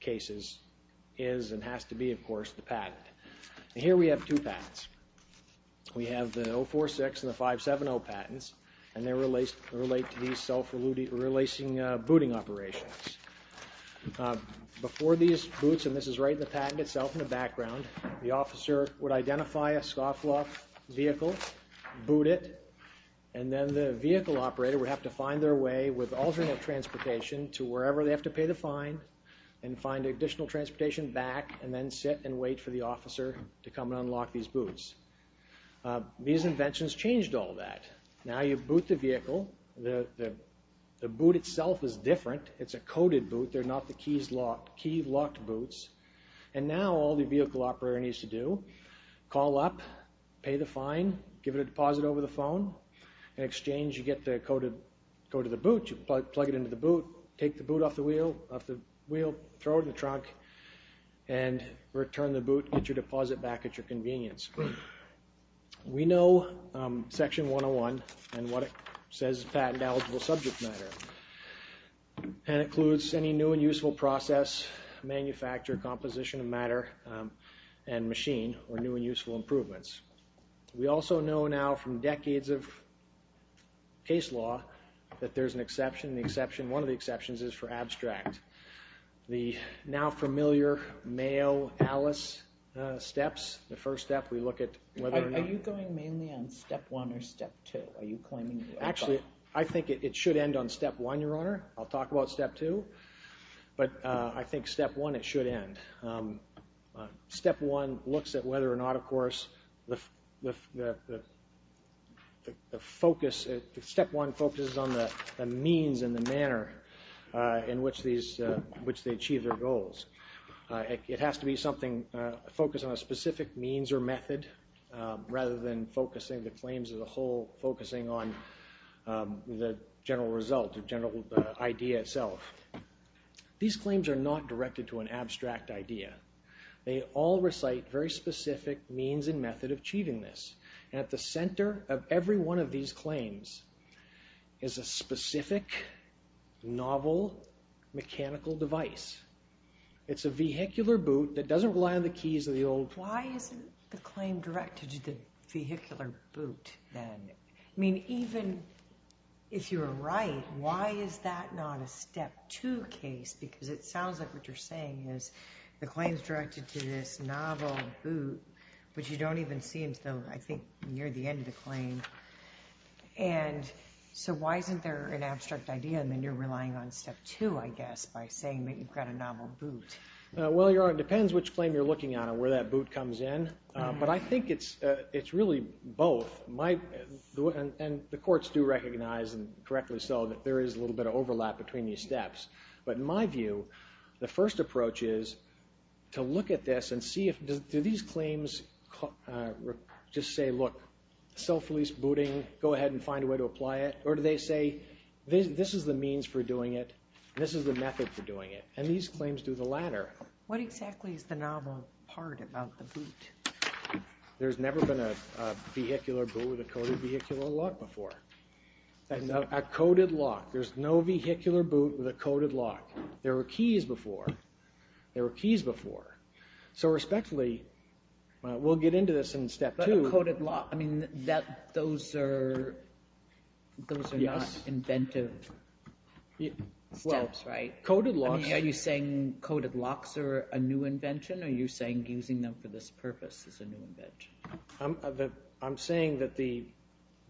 cases is and has to be, of course, the patent. Here we have two patents. We have the 046 and the 570 patents and they relate to these self-relacing booting operations. Before these boots, and this is right in the patent itself in the background, the officer would identify a scofflaw vehicle, boot it, and then the vehicle operator would have to find their way with alternate transportation to wherever they have to pay the fine and find additional transportation back and then sit and wait for the officer to come and unlock these boots. These inventions changed all that. Now you boot the vehicle. The boot itself is different. It's a coded boot. They're not the keys locked. Key locked boots. And now all the vehicle operator needs to do, call up, pay the fine, give it a deposit over the phone. In exchange, you get the code of the boot. You plug it into the boot, take the boot off the wheel, throw it in the trunk, and return the boot, get your deposit back at your convenience. We know Section 101 and what it says is patent-eligible subject matter. And it includes any new and useful process, manufacture, composition of matter, and machine, or new and useful improvements. We also know now from decades of case law that there's an exception. The exception, one of the exceptions, is for abstract. The now familiar Mayo-Allis steps, the first step, we look at whether... Are you going mainly on Step 1 or Step 2? Are you claiming... Actually, I think it should end on Step 1, Your Honor. I'll talk about Step 2, but I think Step 1, it should end. Step 1 looks at whether or not, of course, the focus... Step 1 focuses on the means and the manner in which they achieve their goals. It has to be something focused on a specific means or method rather than focusing the claims as a whole, focusing on the general result, the general idea itself. These claims are not directed to an abstract idea. They all recite very specific means and method of achieving this. And at the center of every one of these claims is a specific, novel, mechanical device. It's a vehicular boot that doesn't rely on the keys of the old... Why isn't the claim directed to the vehicular boot then? I mean, even if you're right, why is that not a Step 2 case? Because it sounds like what you're saying is the claim is directed to this novel boot, which you don't even see until, I think, near the end of the claim. And so why isn't there an abstract idea, and then you're relying on Step 2, I guess, by saying that you've got a novel boot? Well, Your Honor, it depends which claim you're looking at and where that boot comes in, but I think it's really both. And the courts do recognize and correctly so that there is a bit of overlap between these steps. But in my view, the first approach is to look at this and see if... Do these claims just say, look, self-release booting, go ahead and find a way to apply it? Or do they say, this is the means for doing it, this is the method for doing it? And these claims do the latter. What exactly is the novel part about the boot? There's never been a vehicular boot with a coded vehicular lock before. A coded lock. There's no vehicular boot with a coded lock. There were keys before. There were keys before. So respectfully, we'll get into this in Step 2. But a coded lock, I mean, those are not inventive steps, right? Coded locks... I mean, are you saying coded locks are a new invention, or are you saying using them for this purpose is a new invention? I'm saying that the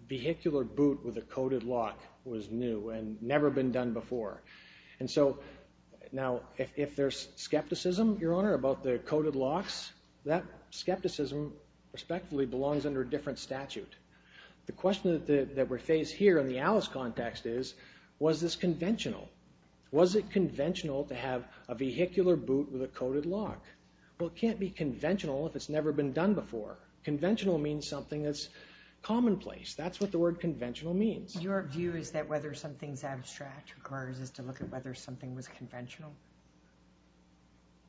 vehicular boot with a coded lock was new and never been done before. And so, now, if there's skepticism, Your Honour, about the coded locks, that skepticism respectfully belongs under a different statute. The question that we face here in the Alice context is, was this conventional? Was it conventional to have a vehicular boot with a coded lock? Well, it can't be conventional if it's never been done before. Conventional means something that's commonplace. That's what the word conventional means. Your view is that whether something's abstract requires us to look at whether something was conventional?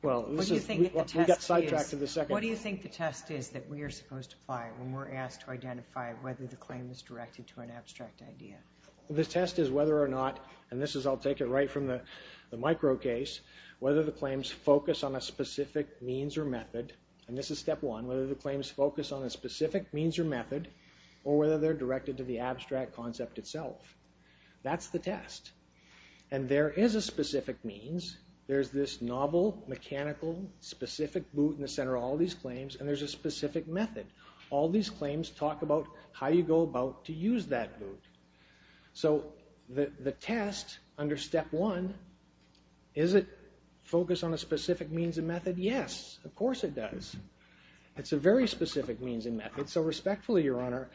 Well, we got sidetracked to the second... What do you think the test is that we are supposed to apply when we're asked to identify whether the claim is directed to an abstract idea? The test is whether or not, and this is, I'll take it right from the micro case, whether the claims focus on a specific means or method, and this is step one, whether the claims focus on a specific means or method, or whether they're directed to the abstract concept itself. That's the test. And there is a specific means. There's this novel, mechanical, specific boot in the center of all these claims, and there's a specific method. All these claims talk about how you go about to use that boot. So the test under step one, is it focused on a specific means and method? Yes, of course it does. It's a very specific means and method. So respectfully, Your Honor,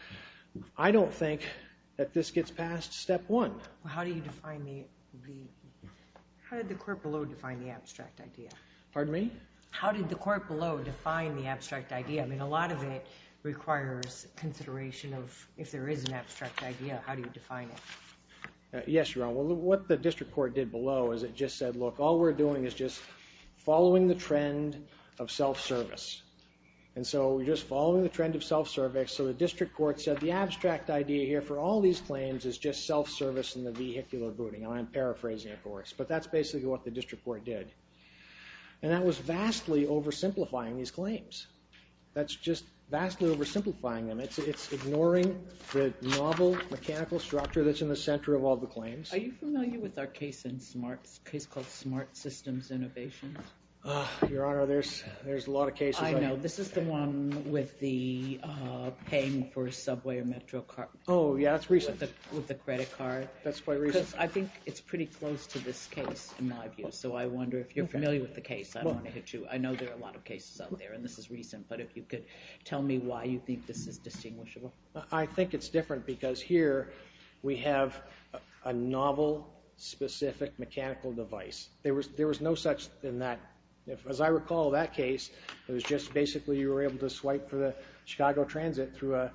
I don't think that this gets past step one. How do you define the... How did the court below define the abstract idea? Pardon me? How did the court below define the abstract idea? I mean, a lot of it requires consideration of if there is an abstract idea, how do you define it? Yes, Your Honor. Well, what the district court did below is it just said, look, all we're doing is just following the trend of self-service. And so we're just following the trend of self-service. So the district court said, the abstract idea here for all these claims is just self-service in the vehicular booting. I'm paraphrasing, of course, but that's basically what the district court did. And that was vastly oversimplifying these claims. That's just vastly oversimplifying them. It's ignoring the novel mechanical structure that's in the center of all the claims. Are you familiar with our case in SMART, a case called SMART Systems Innovations? Your Honor, there's a lot of cases. I know. This is the one with the paying for a subway or metro card. Oh, yeah, that's recent. With the credit card. That's quite recent. I think it's pretty close to this case, in my view. So I wonder if you're familiar with the case. I know there are a lot of cases out there, and this is recent. But if you could tell me why you think this is distinguishable. I think it's different, because here we have a novel, specific mechanical device. There was no such thing that, as I recall that case, it was just basically you were able to swipe for the Chicago Transit through a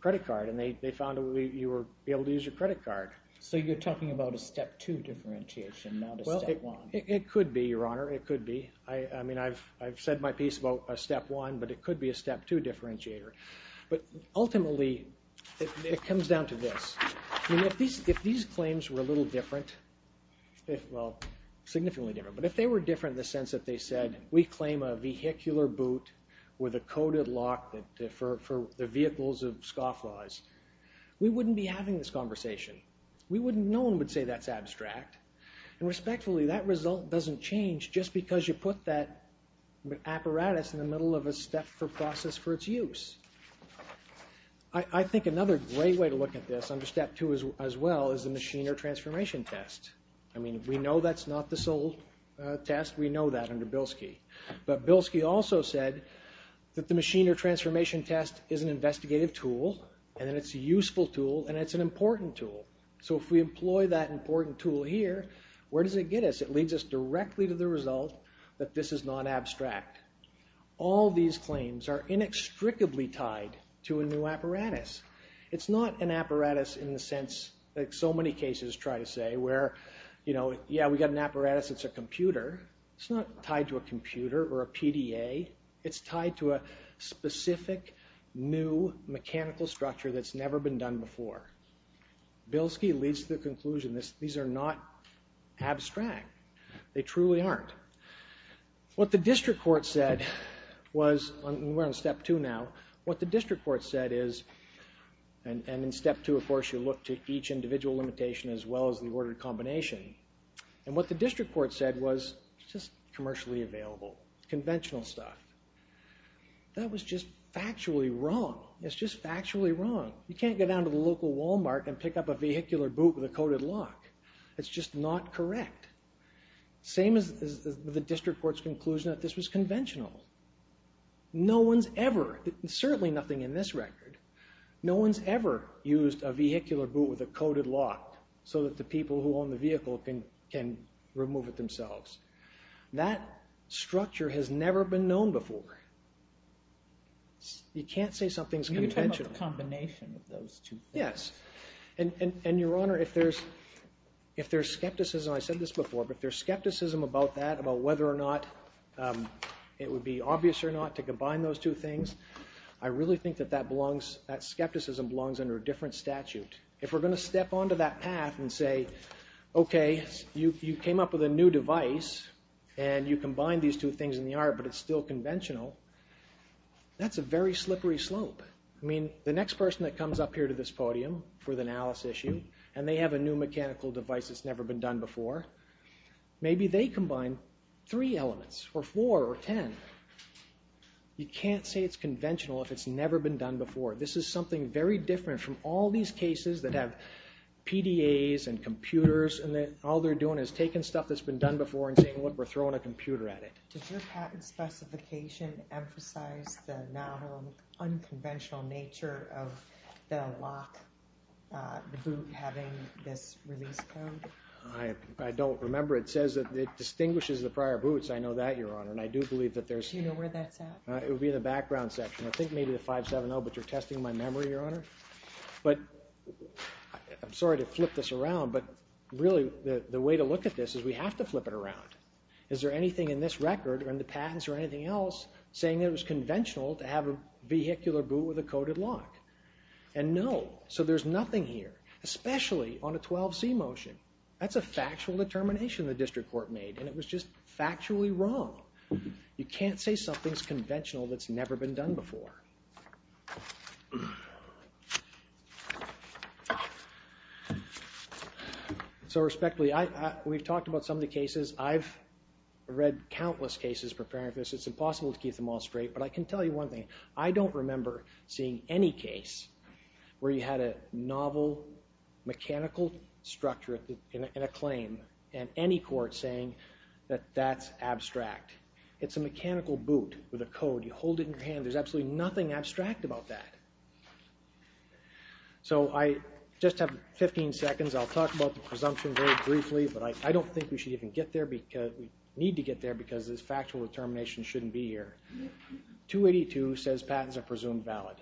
credit card. And they found you were able to use your credit card. So you're talking about a step two differentiation, not a step one. It could be, Your Honor. It could be. I mean, I've said my piece about a step one, but it could be a step two differentiator. But ultimately, it comes down to this. I mean, if these claims were a little different, well, significantly different, but if they were different in the sense that they said, we claim a vehicular boot with a coded lock for the vehicles of scofflaws, we wouldn't be having this conversation. No one would say that's abstract. And respectfully, that result doesn't change just because you put that apparatus in the middle of a step for process for its use. I think another great way to look at this under step two as well is a machine or transformation test. I mean, we know that's not the sole test. We know that under Bilski. But Bilski also said that the machine or transformation test is an investigative tool, and it's a useful tool, and it's an important tool. So if we employ that important tool here, where does it get us? It leads us directly to the result that this is not abstract. All these claims are inextricably tied to a new apparatus. It's not an apparatus in the sense that so many cases try to say where, you know, yeah, we got an apparatus, it's a computer. It's not tied to a computer or a PDA. It's tied to a specific new mechanical structure that's never been done before. Bilski leads to the conclusion these are not abstract. They truly aren't. What the district court said was, and we're on step two now, what the district court said is, and in step two, of course, you look to each individual limitation as well as the ordered combination. And what the district court said was just commercially available, conventional stuff. That was just factually wrong. It's just factually wrong. You can't go down to the local Walmart and pick up a vehicular boot with a coded lock. It's just not correct. Same as the district court's conclusion that this was conventional. No one's ever, certainly nothing in this record, no one's ever used a vehicular boot with a coded lock so that the people who own the vehicle can remove it themselves. You can't say something's conventional. It's a combination of those two things. Yes. And, Your Honour, if there's skepticism, I said this before, but if there's skepticism about that, about whether or not it would be obvious or not to combine those two things, I really think that that belongs, that skepticism belongs under a different statute. If we're going to step onto that path and say, okay, you came up with a new device and you combine these two things in the art but it's still conventional, that's a very slippery slope. I mean, the next person that comes up here to this podium for the analysis issue and they have a new mechanical device that's never been done before, maybe they combine three elements or four or ten. You can't say it's conventional if it's never been done before. This is something very different from all these cases that have PDAs and computers and all they're doing is taking stuff that's been done before and saying, look, we're throwing a computer at it. Does your patent specification emphasize the novel, unconventional nature of the lock, the boot having this release code? I don't remember. It says that it distinguishes the prior boots. I know that, Your Honour, and I do believe that there's... Do you know where that's at? It would be in the background section. I think maybe the 570, but you're testing my memory, Your Honour. But I'm sorry to flip this around, but really the way to look at this is we have to flip it around. Is there anything in this record or in the patents or anything else saying it was conventional to have a vehicular boot with a coded lock? And no, so there's nothing here, especially on a 12C motion. That's a factual determination the district court made and it was just factually wrong. You can't say something's conventional that's never been done before. So, respectfully, we've talked about some of the cases. I've read countless cases preparing for this. It's impossible to keep them all straight, but I can tell you one thing. I don't remember seeing any case where you had a novel, mechanical structure in a claim and any court saying that that's abstract. It's a mechanical boot with a code. You hold it in your hand. There's absolutely nothing there. There's nothing abstract about that. So I just have 15 seconds. I'll talk about the presumption very briefly, but I don't think we should even get there. We need to get there because this factual determination shouldn't be here. 282 says patents are presumed valid.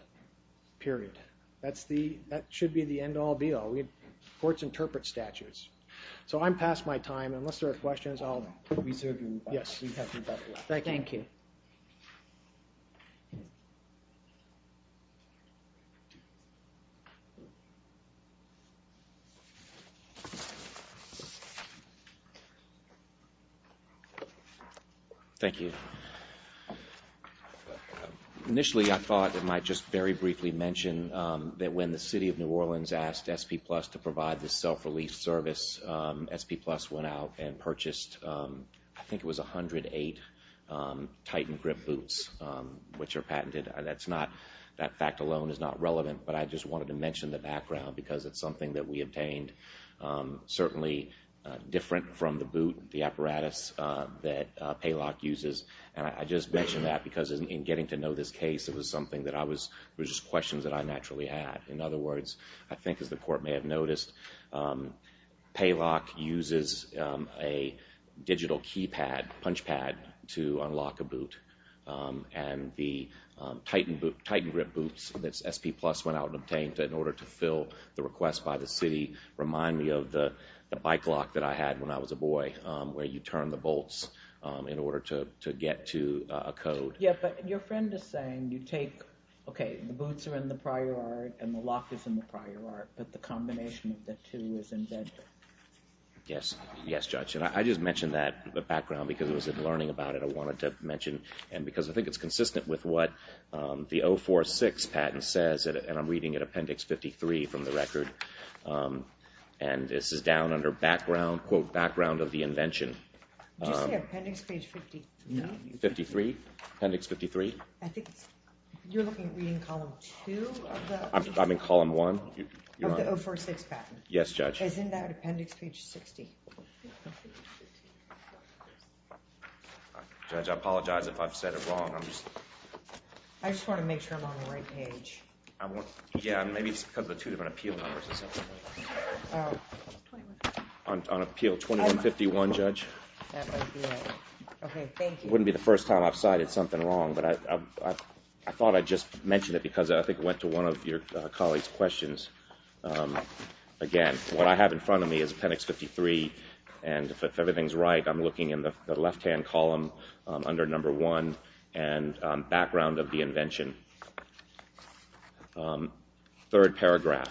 Period. That should be the end all, be all. Courts interpret statutes. Unless there are questions, I'll reserve you. Thank you. Thank you. Thank you. Initially, I thought I might just very briefly mention that when the city of New Orleans asked SP Plus to provide this self-relief service, SP Plus went out and purchased, I think it was 108 Titan Grip boots, which are patented. That fact alone is not relevant, but I just wanted to mention the background because it's something that we obtained. Certainly different from the boot, the apparatus that Paylock uses. And I just mention that because in getting to know this case, it was just questions that I naturally had. In other words, I think as the court may have noticed, and the Titan Grip boots that SP Plus went out and obtained in order to fill the request by the city, remind me of the bike lock that I had when I was a boy, where you turn the bolts in order to get to a code. Yeah, but your friend is saying you take, okay, the boots are in the prior art and the lock is in the prior art, but the combination of the two is embedded. Yes. Yes, Judge. And I just mentioned that background because I was learning about it. I also wanted to mention, and because I think it's consistent with what the 046 patent says, and I'm reading it Appendix 53 from the record, and this is down under background, quote, background of the invention. Did you say Appendix Page 53? 53, Appendix 53. I think you're looking at reading Column 2? I'm in Column 1. Of the 046 patent. Yes, Judge. As in that Appendix Page 60. Judge, I apologize if I've said it wrong. I just want to make sure I'm on the right page. Yeah, maybe it's because of the two different appeal numbers. On appeal 2151, Judge. That might be it. Okay, thank you. It wouldn't be the first time I've cited something wrong, but I thought I'd just mention it because I think it went to one of your colleagues' questions. Again, what I have in front of me is Appendix 53, and if everything's right, I'm looking in the left-hand column under number 1, and background of the invention. Third paragraph,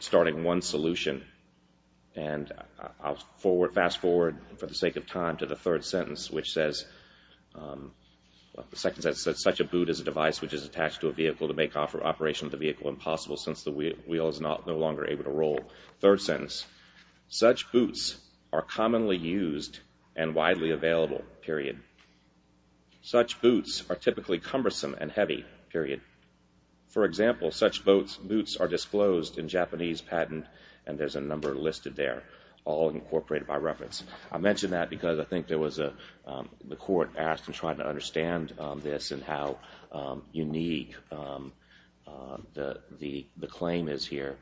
starting one solution, and I'll fast-forward for the sake of time to the third sentence, which says, the second sentence says, such a boot is a device which is attached to a vehicle to make operation of the vehicle impossible since the wheel is no longer able to roll. Third sentence, such boots are commonly used and widely available, period. Such boots are typically cumbersome and heavy, period. For example, such boots are disclosed in Japanese patent, and there's a number listed there, all incorporated by reference. I mention that because I think the court asked and tried to understand this and how unique the claim is here.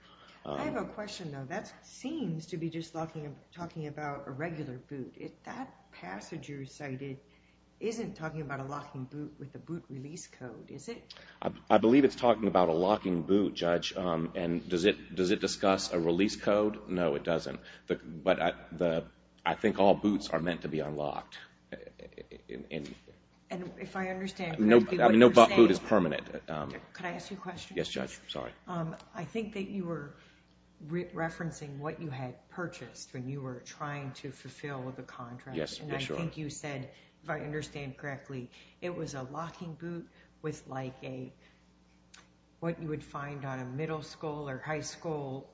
I have a question, though. That seems to be just talking about a regular boot. That passage you recited isn't talking about a locking boot with a boot release code, is it? I believe it's talking about a locking boot, Judge, and does it discuss a release code? No, it doesn't. But I think all boots are meant to be unlocked. And if I understand correctly, what you're saying... No boot is permanent. Could I ask you a question? Yes, Judge, sorry. I think that you were referencing what you had purchased when you were trying to fulfill the contract. Yes, for sure. And I think you said, if I understand correctly, it was a locking boot with, like, a... what you would find on a middle school or high school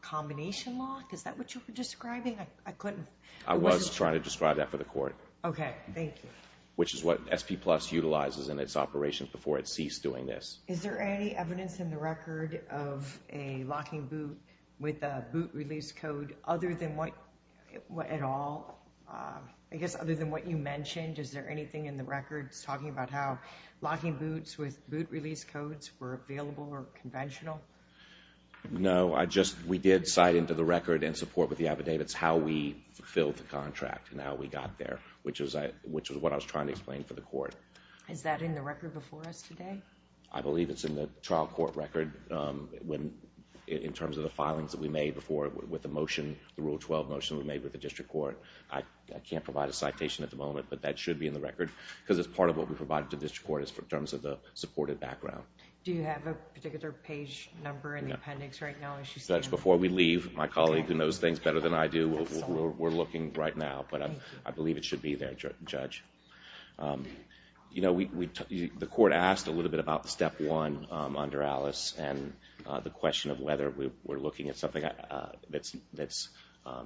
combination lock? Is that what you were describing? I was trying to describe that for the court. Okay, thank you. Which is what SP Plus utilizes in its operations before it ceased doing this. Is there any evidence in the record of a locking boot with a boot release code other than what... at all? I guess other than what you mentioned, is there anything in the record talking about how locking boots with boot release codes were available or conventional? No, I just... we did cite into the record and support with the affidavits how we fulfilled the contract and how we got there, which was what I was trying to explain for the court. Is that in the record before us today? I believe it's in the trial court record in terms of the filings that we made before with the motion, the Rule 12 motion we made with the district court. I can't provide a citation at the moment, but that should be in the record, because it's part of what we provided to the district court in terms of the supported background. Do you have a particular page number in the appendix right now? Before we leave, my colleague who knows things better than I do, we're looking right now, but I believe it should be there, Judge. You know, the court asked a little bit about the Step 1 under Alice and the question of whether we're looking at something that's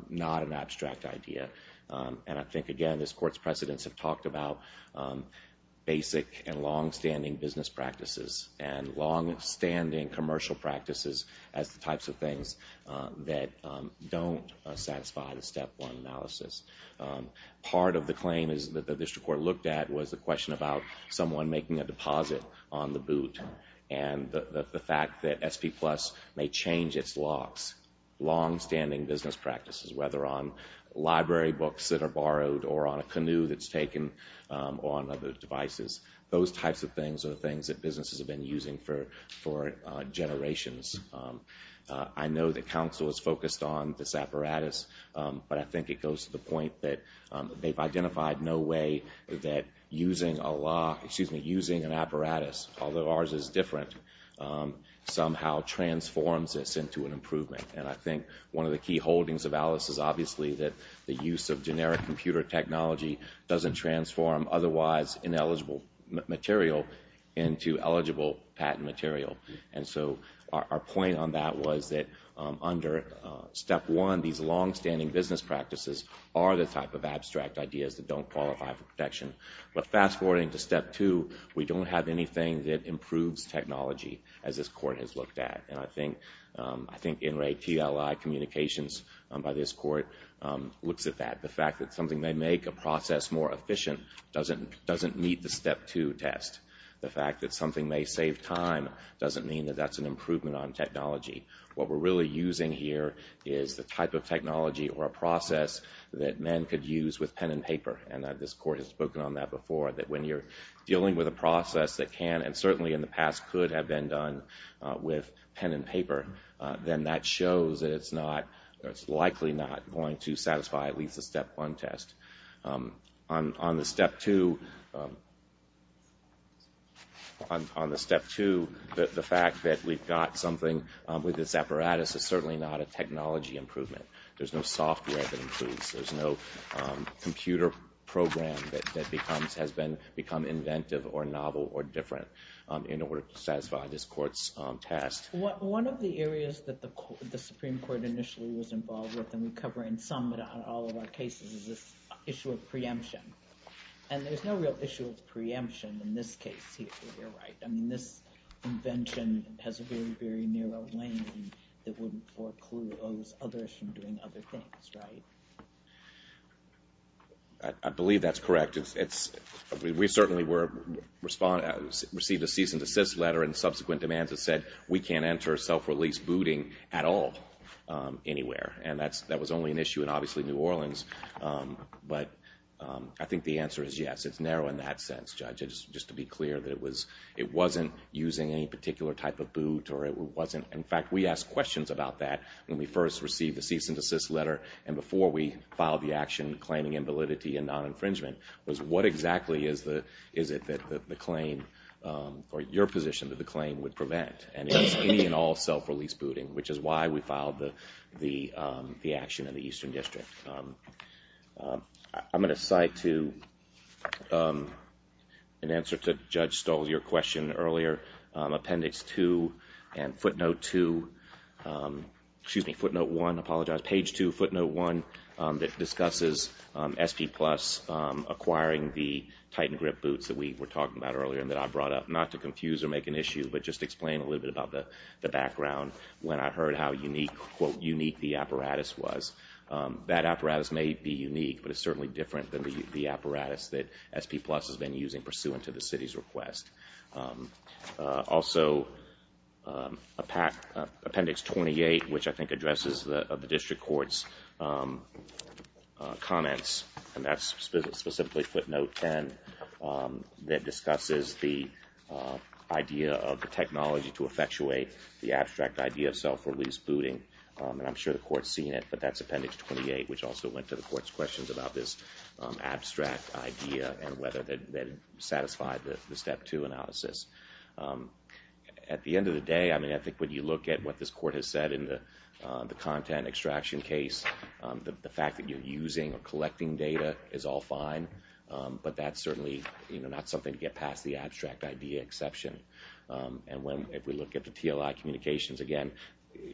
not an abstract idea. And I think, again, this court's precedents have talked about basic and long-standing business practices and long-standing commercial practices as the types of things that don't satisfy the Step 1 analysis. Part of the claim that the district court looked at was the question about someone making a deposit on the boot and the fact that it could change its locks. Long-standing business practices, whether on library books that are borrowed or on a canoe that's taken or on other devices. Those types of things are things that businesses have been using for generations. I know that counsel is focused on this apparatus, but I think it goes to the point that they've identified no way that using a lock, excuse me, using an apparatus, although ours is different, somehow transforms this into an improvement. And I think one of the key holdings of Alice is obviously that the use of generic computer technology doesn't transform otherwise ineligible material into eligible patent material. And so our point on that was that under Step 1, these long-standing business practices are the type of abstract ideas that don't qualify for protection. But fast-forwarding to Step 2, we don't have anything that improves technology, as this Court has looked at. And I think NRA TLI communications by this Court looks at that. The fact that something may make a process more efficient doesn't meet the Step 2 test. The fact that something may save time doesn't mean that that's an improvement on technology. What we're really using here is the type of technology or a process that men could use with pen and paper, and this Court has spoken on that before, that when you're dealing with a process that can, and certainly in the past could have been done with pen and paper, then that shows that it's likely not going to satisfy at least the Step 1 test. On the Step 2, on the Step 2, the fact that we've got something with this apparatus is certainly not a technology improvement. There's no software that improves. There's no computer program that has become inventive or novel or different in order to satisfy this Court's test. One of the areas that the Supreme Court initially was involved with and we cover in some but not all of our cases is this issue of preemption. And there's no real issue of preemption in this case, if you're right. I mean, this invention has a very, very narrow lane that wouldn't foreclose others from doing other things, right? I believe that's correct. We certainly received a cease and desist letter and subsequent demands that said we can't enter self-release booting at all anywhere. And that was only an issue in obviously New Orleans. But I think the answer is yes. It's narrow in that sense, Judge, just to be clear that it wasn't using any particular type of boot or it wasn't. In fact, we asked questions about that when we first received the cease and desist letter and before we filed the action claiming invalidity and non-infringement was what exactly is it that the claim or your position that the claim would prevent? And it's any and all self-release booting, which is why we filed the action in the Eastern District. I'm going to cite to an answer to Judge Stoll's, your question earlier, appendix two and footnote two. Excuse me, footnote one. I apologize. Page two, footnote one that discusses SP Plus acquiring the Titan Grip boots that we were talking about earlier and that I brought up, not to confuse or make an issue but just explain a little bit about the background when I heard how unique the apparatus was. That apparatus may be unique but it's certainly different than the apparatus that SP Plus has been using pursuant to the city's request. Also appendix twenty-eight, which I think addresses the District Court's comments and that's specifically footnote ten that discusses the idea of the technology to effectuate the abstract idea of self-release booting and I'm sure the Court's seen it but that's appendix twenty-eight, which also went to the Court's questions about this abstract idea and whether that satisfied the step two analysis. At the end of the day, I think when you look at what this Court has said in the content extraction case, the fact that you're using or collecting data is all fine but that's certainly not something to get past the abstract idea exception and if we look at the TLI communications again,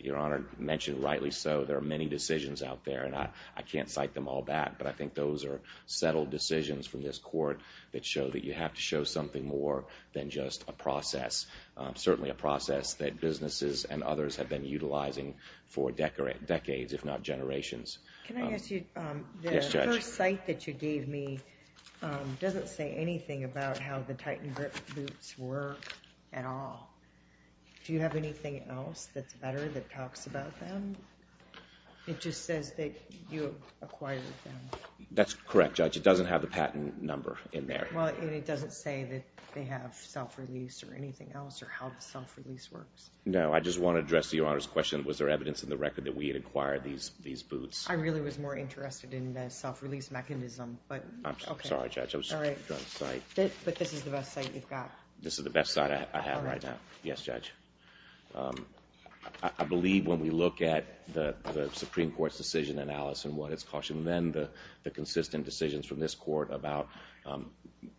Your Honor mentioned rightly so, there are many decisions out there and I can't cite them all back but I think those are settled decisions from this Court that show that you have to show something more than just a process, certainly a process that businesses and others have been utilizing for decades if not generations. The first cite that you gave me doesn't say anything about how the Titan grip boots work at all. Do you have anything else that's better that talks about them? It just says that you acquired them. That's correct, Judge. It doesn't have the patent number in there. And it doesn't say that they have self-release or anything else or how the self-release works? No, I just want to address Your Honor's question, was there evidence in the record that we had acquired these boots? I really was more interested in the self-release mechanism. I'm sorry, Judge. But this is the best cite you've got. This is the best cite I have right now. Yes, Judge. I believe when we look at the Supreme Court's decision analysis and what it's cautioned then the consistent decisions from this Court about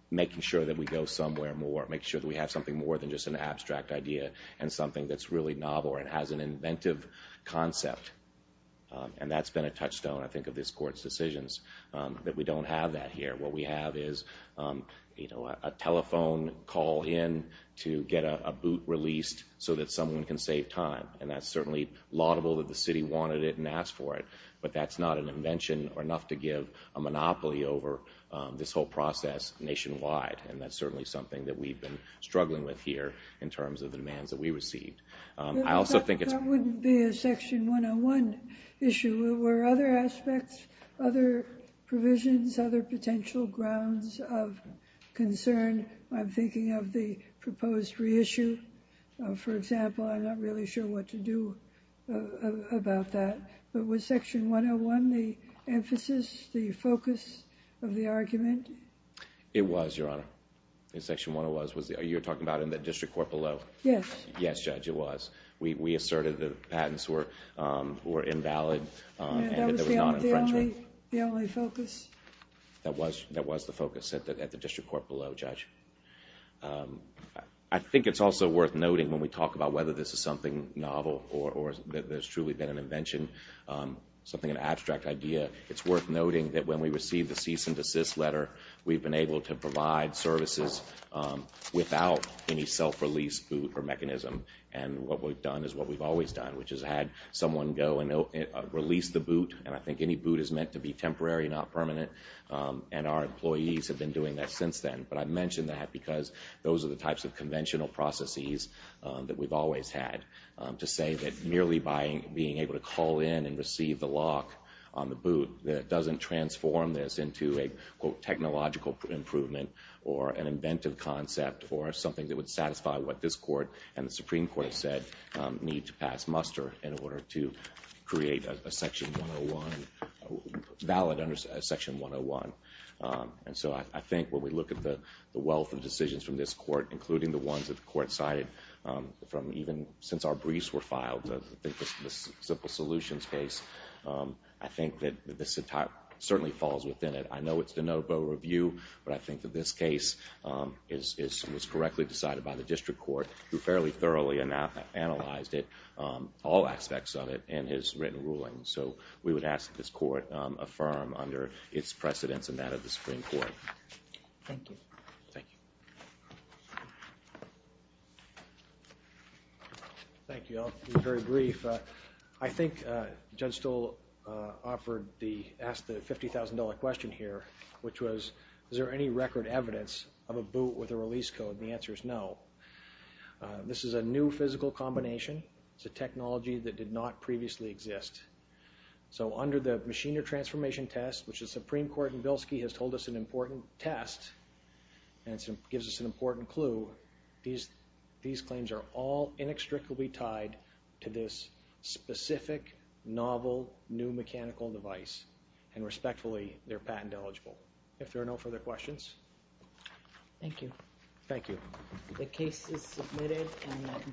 making sure that we go somewhere more, make sure that we have something more than just an abstract idea and something that's really novel or it has an inventive concept. And that's been a touchstone, I think, of this Court's decisions that we don't have that here. What we have is a telephone call in to get a boot released so that someone can save time. And that's certainly laudable that the city wanted it and asked for it. But that's not an invention or enough to give a monopoly over this whole process nationwide. And that's certainly something that we've been struggling with here in terms of the demands that we received. That wouldn't be a Section 101 issue. There were other aspects, other provisions, other potential grounds of concern. I'm thinking of the proposed reissue, for example. I'm not really sure what to do about that. But was Section 101 the emphasis, the focus of the argument? It was, Your Honor. Section 101 was. You're talking about in the district court below? Yes. Yes, Judge, it was. We asserted that patents were invalid. That was the only focus? That was the focus at the district court below, Judge. I think it's also worth noting when we talk about whether this is something novel or that there's truly been an invention, something, an abstract idea, it's worth noting that when we received the cease and desist letter, we've been able to provide services without any self-release boot or mechanism. And what we've done is what we've always done, which is had someone go and release the boot. And I think any boot is meant to be temporary, not permanent. And our employees have been doing that since then. But I mention that because those are the types of conventional processes that we've always had. To say that merely by being able to call in and receive the lock on the boot, that it doesn't transform this into a, quote, technological improvement or an inventive concept or something that would satisfy what this court and the Supreme Court said need to pass muster in order to create a Section 101, valid Section 101. And so I think when we look at the wealth of decisions from this court, including the ones that the court cited from even since our briefs were filed, the Simple Solutions case, I think that this certainly falls within it. I know it's de novo review, but I think that this case was correctly decided by the District Court, who fairly thoroughly analyzed it, all aspects of it, in his written ruling. So we would ask that this court affirm under its precedence and that of the Supreme Court. Thank you. Thank you. I'll be very brief. I think Judge Stoll asked the $50,000 question here, which was, is there any record evidence of a boot with a release code? The answer is no. This is a new physical combination. It's a technology that did not previously exist. So under the Machiner Transformation Test, which the Supreme Court called an important test, and gives us an important clue, these claims are all inextricably tied to this specific, novel, new mechanical device. And respectfully, they're patent eligible. If there are no further questions. Thank you. Thank you.